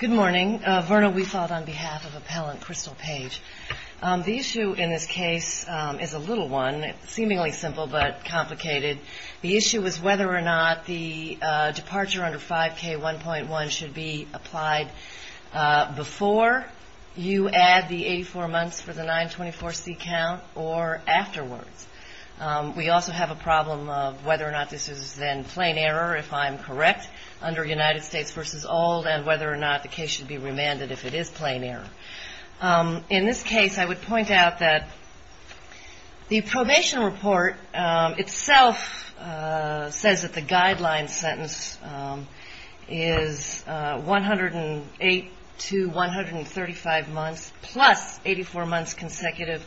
The issue in this case is a little one, seemingly simple but complicated. The issue is whether or not the departure under 5K1.1 should be applied before you add the 84 months for the 924C count or afterwards. We also have a problem of whether or not this is then plain error if I'm correct under United States v. Old and whether or not the case should be remanded if it is plain error. In this case, I would point out that the probation report itself says that the guideline sentence is 108 to 135 months plus 84 months consecutive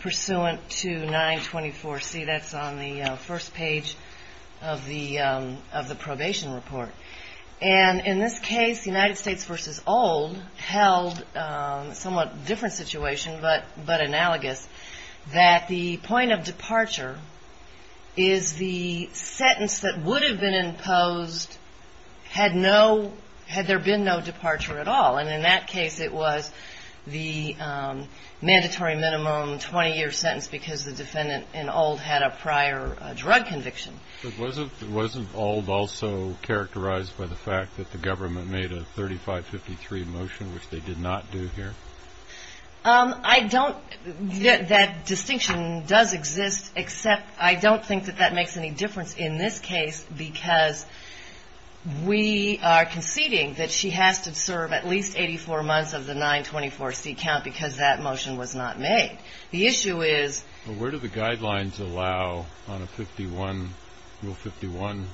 pursuant to 924C. That's on the first page of the probation report. In this case, United States v. Old held a somewhat different situation, but analogous, that the point of departure is the sentence that would have been imposed had there been no departure at all. In that case, it was the mandatory minimum 20-year sentence because the defendant in Old had a prior drug conviction. But wasn't Old also characterized by the fact that the government made a 3553 motion, which they did not do here? I don't – that distinction does exist, except I don't think that that makes any difference in this case because we are conceding that she has to serve at least 84 months of the 924C count because that motion was not made. The issue is… Well, where do the guidelines allow on a 51 – Rule 51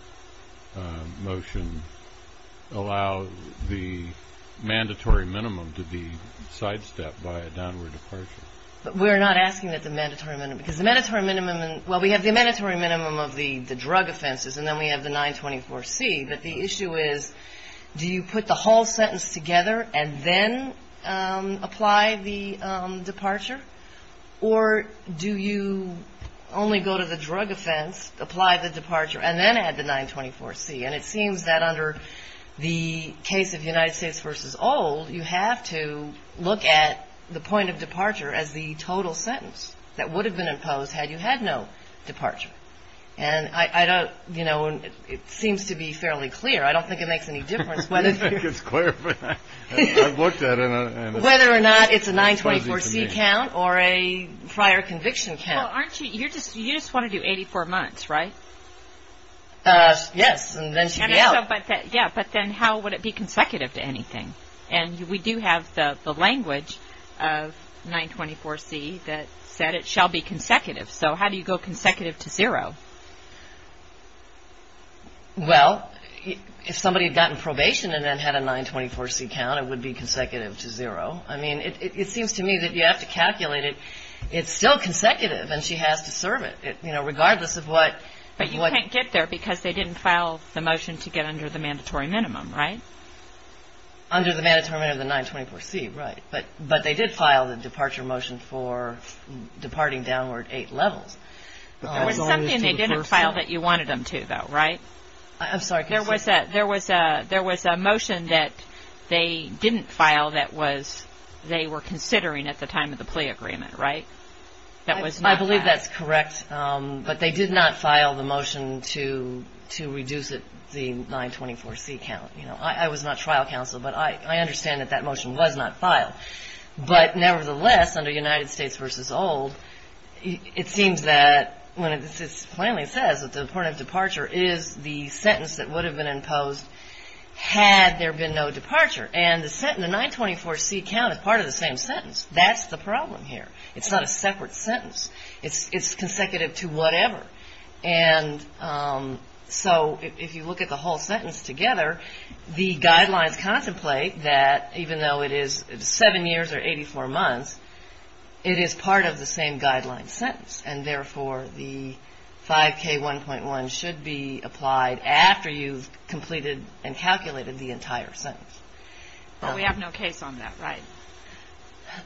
motion allow the mandatory minimum to be sidestepped by a downward departure? We're not asking that the mandatory minimum – because the mandatory minimum – well, we have the mandatory minimum of the drug offenses, and then we have the 924C, but the issue is do you put the whole sentence together and then apply the departure, or do you only go to the drug offense, apply the departure, and then add the 924C? And it seems that under the case of United States v. Old, you have to look at the point of departure as the total sentence that would have been imposed had you had no departure. And I don't – you know, it seems to be fairly clear. I don't think it makes any difference whether… I don't think it's clear, but I've looked at it, and it's fuzzy to me. Whether or not it's a 924C count or a prior conviction count. Well, aren't you – you're just – you just want to do 84 months, right? Yes, and then she'd be out. But then how would it be consecutive to anything? And we do have the language of 924C that said it shall be consecutive. So how do you go consecutive to zero? Well, if somebody had gotten probation and then had a 924C count, it would be consecutive to zero. I mean, it seems to me that you have to calculate it. It's still consecutive, and she has to serve it, you know, regardless of what… But they can't get there because they didn't file the motion to get under the mandatory minimum, right? Under the mandatory minimum of the 924C, right. But they did file the departure motion for departing downward eight levels. That was something they didn't file that you wanted them to, though, right? I'm sorry, can you say that again? There was a motion that they didn't file that was – they were considering at the time of the plea agreement, right? That was not filed. I believe that's correct, but they did not file the motion to reduce the 924C count. I was not trial counsel, but I understand that that motion was not filed. But nevertheless, under United States v. Old, it seems that when it plainly says that the point of departure is the sentence that would have been imposed had there been no departure. And the 924C count is part of the same sentence. That's the problem here. It's not a separate sentence. It's consecutive to whatever. And so if you look at the whole sentence together, the guidelines contemplate that even though it is seven years or 84 months, it is part of the same guideline sentence. And therefore, the 5K1.1 should be applied after you've completed and calculated the entire sentence. But we have no case on that, right?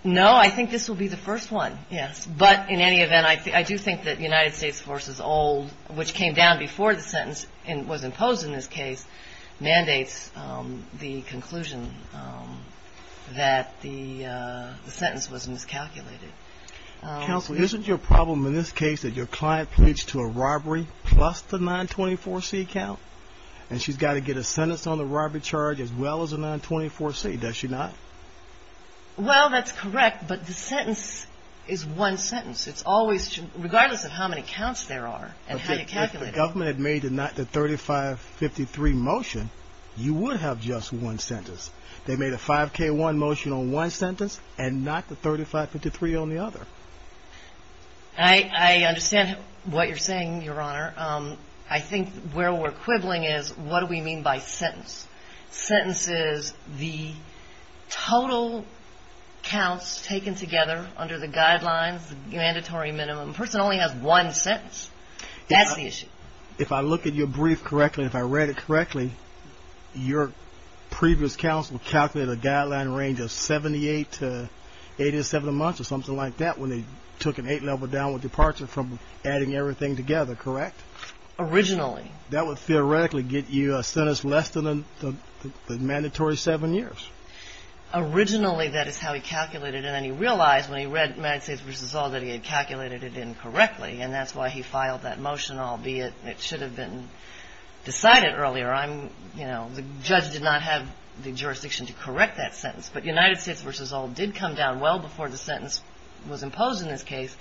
No. I think this will be the first one, yes. But in any event, I do think that United States v. Old, which came down before the sentence was imposed in this case, mandates the conclusion that the sentence was miscalculated. Counsel, isn't your problem in this case that your client pleads to a robbery plus the 924C count? And she's got to get a sentence on the robbery charge as well as the 924C. Does she not? Well, that's correct. But the sentence is one sentence. It's always, regardless of how many counts there are and how you calculate it. If the government had made the 3553 motion, you would have just one sentence. They made a 5K1 motion on one sentence and not the 3553 on the other. I understand what you're saying, Your Honor. I think where we're quibbling is what do we mean by sentence? Sentence is the total counts taken together under the guidelines, the mandatory minimum. A person only has one sentence. That's the issue. If I look at your brief correctly, if I read it correctly, your previous counsel calculated a guideline range of 78 to 87 a month or something like that when they took an 8-level downward departure from adding everything together, correct? Originally. That would theoretically get you a sentence less than the mandatory 7 years. Originally that is how he calculated it. And then he realized when he read United States v. Sol that he had calculated it incorrectly. And that's why he filed that motion, albeit it should have been decided earlier. The judge did not have the jurisdiction to correct that sentence. But United States v. Sol did come down well before the sentence was imposed in this case.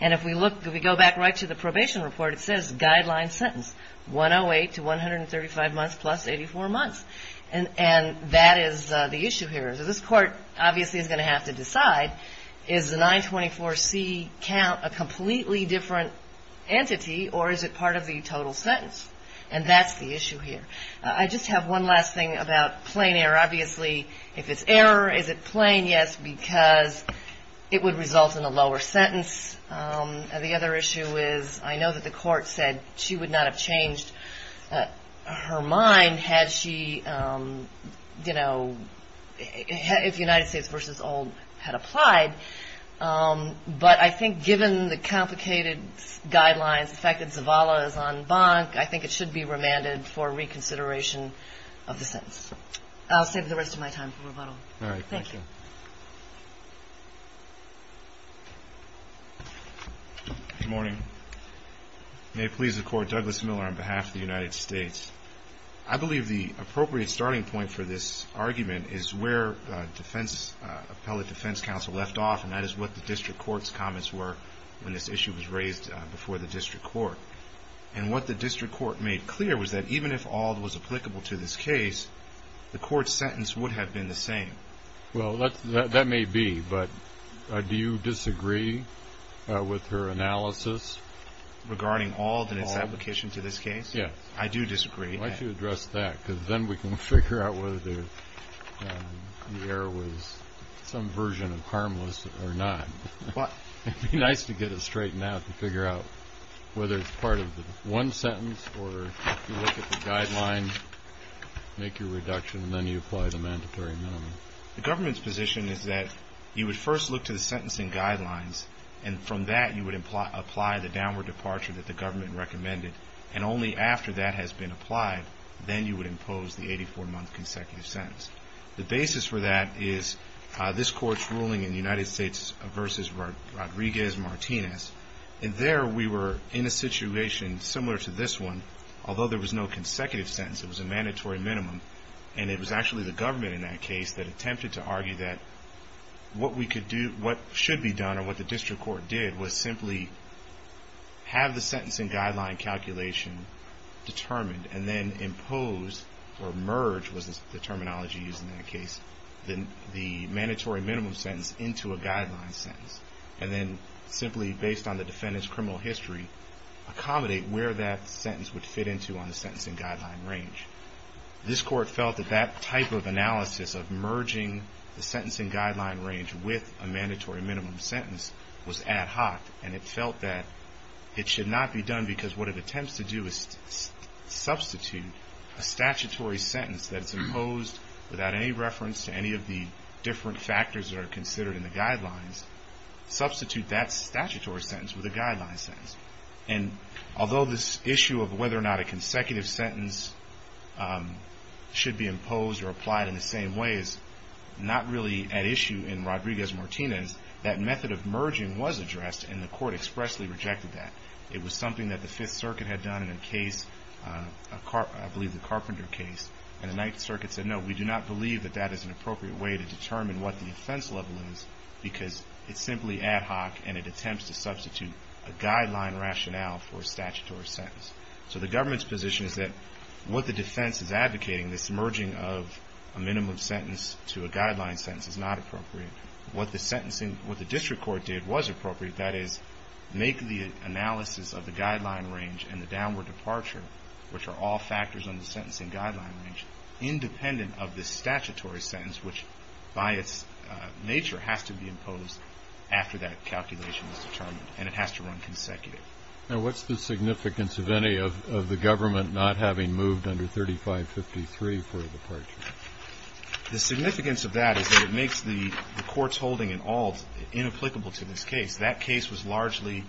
And if we go back right to the probation report, it says guideline sentence 108 to 135 months plus 84 months. And that is the issue here. So this Court obviously is going to have to decide is the 924C count a completely different entity or is it part of the total sentence? And that's the issue here. I just have one last thing about plain error. Obviously if it's error, is it plain? Yes, because it would result in a lower sentence. The other issue is I know that the Court said she would not have changed her mind had she, you know, if United States v. Sol had applied. But I think given the complicated guidelines, the fact that Zavala is on bonk, I think it should be remanded for reconsideration of the sentence. I'll save the rest of my time for rebuttal. All right. Thank you. Good morning. May it please the Court, Douglas Miller on behalf of the United States. I believe the appropriate starting point for this argument is where defense, Appellate Defense Counsel left off and that is what the District Court's comments were when this issue was raised before the District Court. And what the District Court made clear was that even if Auld was applicable to this case, the Court's sentence would have been the same. Well that may be, but do you disagree with her analysis? Regarding Auld and its application to this case? Yes. I do disagree. Why don't you address that, because then we can figure out whether the error was some version of harmless or not. It would be nice to get it straightened out to figure out whether it's part of one sentence or if you look at the guidelines, make your reduction, and then you apply the mandatory minimum. The government's position is that you would first look to the sentencing guidelines, and from that you would apply the downward departure that the government recommended. And only after that has been applied, then you would impose the 84-month consecutive sentence. The basis for that is this Court's ruling in the United States versus Rodriguez-Martinez. And there we were in a situation similar to this one, although there was no consecutive sentence, it was a mandatory minimum. And it was actually the government in that case that attempted to argue that what we could do, what should be done, or what the District Court did, was simply have the sentencing guideline calculation determined and then impose, or merge, was the terminology used in that case, the mandatory minimum sentence into a guideline sentence. And then simply based on the defendant's criminal history, accommodate where that sentence would fit into on the sentencing guideline range. This Court felt that that type of analysis of merging the sentencing guideline range with a mandatory minimum sentence was ad hoc, and it felt that it should not be done because what it attempts to do is substitute a statutory sentence that's imposed without any reference to any of the different factors that are considered in the guidelines, substitute that statutory sentence with a guideline sentence. And although this issue of whether or not a consecutive sentence should be imposed or applied in the same way is not really at issue in Rodriguez-Martinez, that method of merging was addressed and the Court expressly rejected that. It was something that the Fifth Circuit had done in a case, I believe the Carpenter case, and the Ninth Circuit said no, we do not believe that that is an appropriate way to determine what the offense level is because it's simply ad hoc and it attempts to substitute a guideline rationale for a statutory sentence. So the government's position is that what the defense is advocating, this merging of a minimum sentence to a guideline sentence is not appropriate. What the district court did was appropriate, that is make the analysis of the guideline range and the downward departure, which are all factors on the sentencing guideline range, independent of the statutory sentence, which by its nature has to be imposed after that calculation is determined and it has to run consecutive. Now what's the significance of any of the government not having moved under 3553 for a departure? The significance of that is that it makes the Court's holding in all inapplicable to this case. That case was largely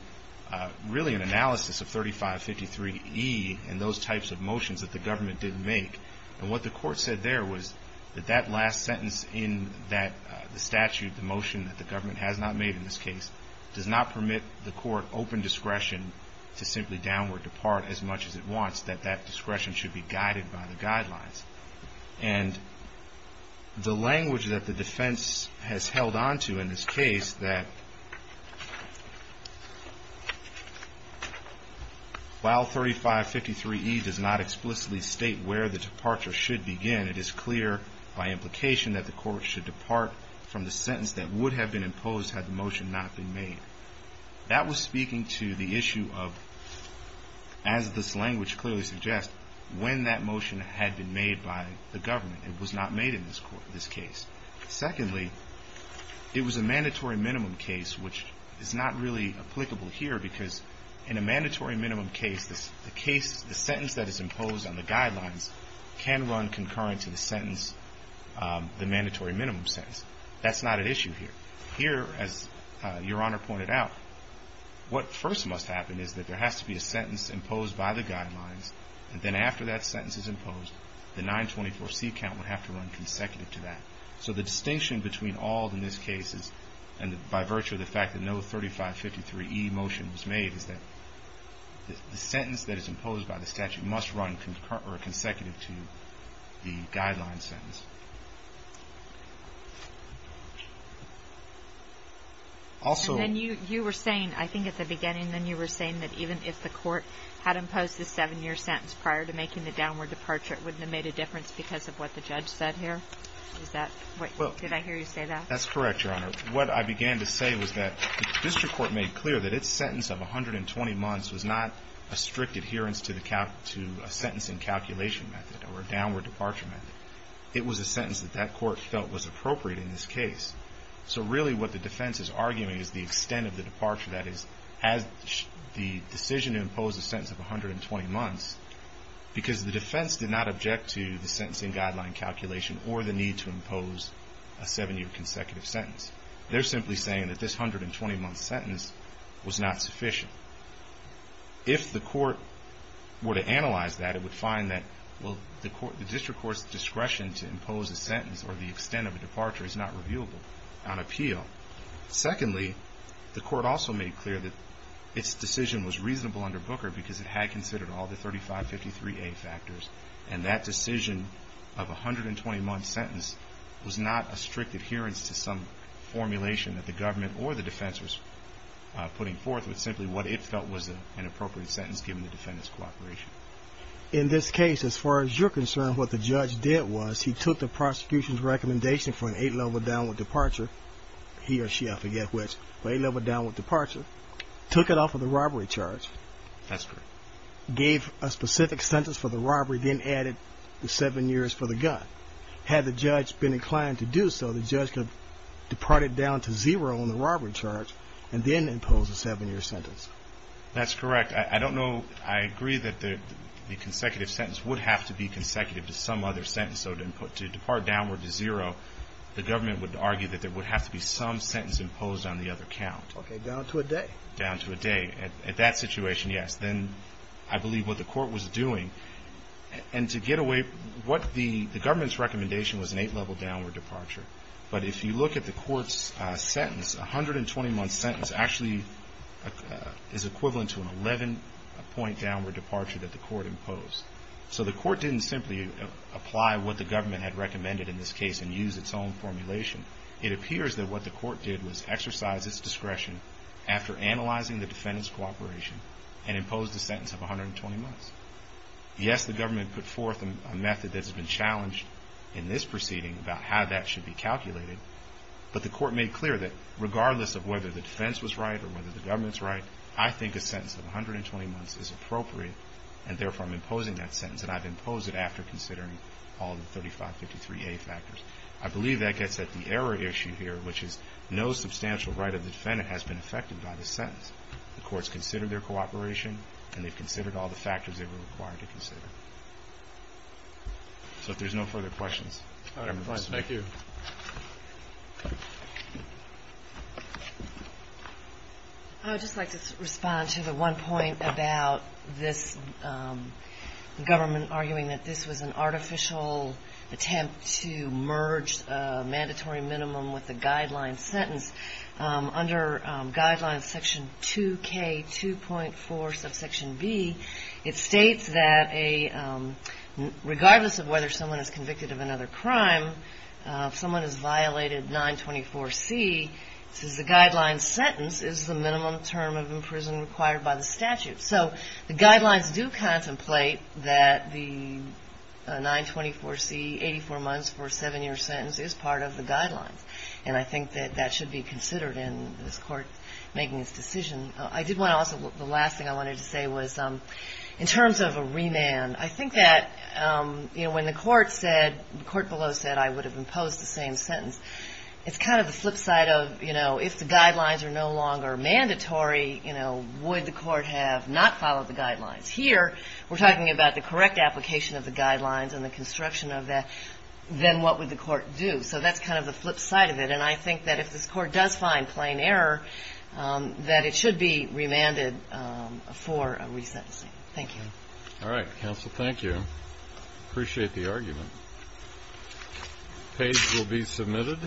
really an analysis of 3553E and those types of motions that the government didn't make. And what the Court said there was that that last sentence in that statute, the motion that the government has not made in this case, does not permit the Court open discretion to simply downward depart as much as it wants, that that discretion should be guided by the guidelines. And the language that the defense has held onto in this case that while 3553E does not explicitly state where the departure should begin, it is clear by implication that the Court should depart from the sentence that would have been imposed had the motion not been made. That was speaking to the issue of, as this language clearly suggests, when that motion had been made by the government. It was not made in this case. Secondly, it was a mandatory minimum case, which is not really applicable here because in a mandatory minimum case, the sentence that is imposed on the guidelines can run concurrent to the sentence, the mandatory minimum sentence. That's not at issue here. Here, as Your Honor pointed out, what first must happen is that there has to be a sentence imposed by the guidelines, and then after that sentence is imposed, the 924C count would have to run consecutive to that. So the distinction between all in this case is, and by virtue of the fact that no 3553E motion was made, is that the sentence that is imposed by the statute must run consecutive to the guideline sentence. And then you were saying, I think at the beginning, then you were saying that even if the Court had imposed the 7-year sentence prior to making the downward departure, it wouldn't have made a difference because of what the judge said here? Did I hear you say that? That's correct, Your Honor. What I began to say was that the District Court made clear that its sentence of 120 months was not a strict adherence to a sentencing calculation method or a downward departure method. It was a sentence that that Court felt was appropriate in this case. So really what the defense is arguing is the extent of the departure, that is, has the decision to impose a sentence of 120 months, because the defense did not object to the sentencing guideline calculation or the need to impose a 7-year consecutive sentence. They're simply saying that this 120-month sentence was not sufficient. If the Court were to analyze that, it would find that, well, the District Court's discretion to impose a sentence or the extent of a departure is not reviewable on appeal. Secondly, the Court also made clear that its decision was reasonable under Booker because it had considered all the 3553A factors, and that decision of a 120-month sentence was not a strict adherence to some formulation that the government or the defense was putting forth, but simply what it felt was an appropriate sentence given the defendant's cooperation. In this case, as far as you're concerned, what the judge did was he took the prosecution's recommendation for an 8-level downward departure, he or she, I forget which, but 8-level downward departure, took it off of the robbery charge, gave a specific sentence for the robbery, then added the 7 years for the gun. Had the judge been inclined to do so, the judge could depart it down to zero on the robbery charge and then impose a 7-year sentence. That's correct. I don't know, I agree that the consecutive sentence would have to be consecutive to some other sentence, so to depart downward to zero, the government would argue that there would have to be some sentence imposed on the other count. Okay, down to a day. Down to a day. At that situation, yes. Then I believe what the Court was doing, and to get away, what the government's recommendation was an 8-level downward departure, but if you look at the Court's sentence, a 120-month sentence actually is equivalent to an 11-point downward departure that the Court imposed. So the Court didn't simply apply what the government had recommended in this case and use its own formulation. It appears that what the Court did was exercise its discretion after analyzing the defendant's cooperation and imposed a sentence of 120 months. Yes, the government put forth a method that's been challenged in this proceeding about how that should be calculated, but the Court made clear that regardless of whether the defense was right or whether the government was right, I think a sentence of 120 months is appropriate, and therefore I'm imposing that sentence, and I've imposed it after considering all the 3553A factors. I believe that gets at the error issue here, which is no substantial right of the defendant has been affected by the sentence. The Court's considered their cooperation, and they've So if there's no further questions, I'm advised. Thank you. I would just like to respond to the one point about this government arguing that this was an artificial attempt to merge a mandatory minimum with a guideline sentence. Under Guidelines Section 2K2.4 subsection B, it states that regardless of whether someone is convicted of another crime, if someone is violated 924C, it says the guideline sentence is the minimum term of imprisonment required by the statute. So the guidelines do contemplate that the 924C, 84 months for a seven-year sentence, is part of the guidelines, and I did want to also, the last thing I wanted to say was, in terms of a remand, I think that, you know, when the court said, the court below said I would have imposed the same sentence, it's kind of the flip side of, you know, if the guidelines are no longer mandatory, you know, would the court have not followed the guidelines? Here, we're talking about the correct application of the guidelines and the construction of that. Then what would the court do? So that's kind of the flip side of it, and I think that if this court does find plain error, that it should be remanded for a resentencing. Thank you. All right. Counsel, thank you. Appreciate the argument. Page will be submitted.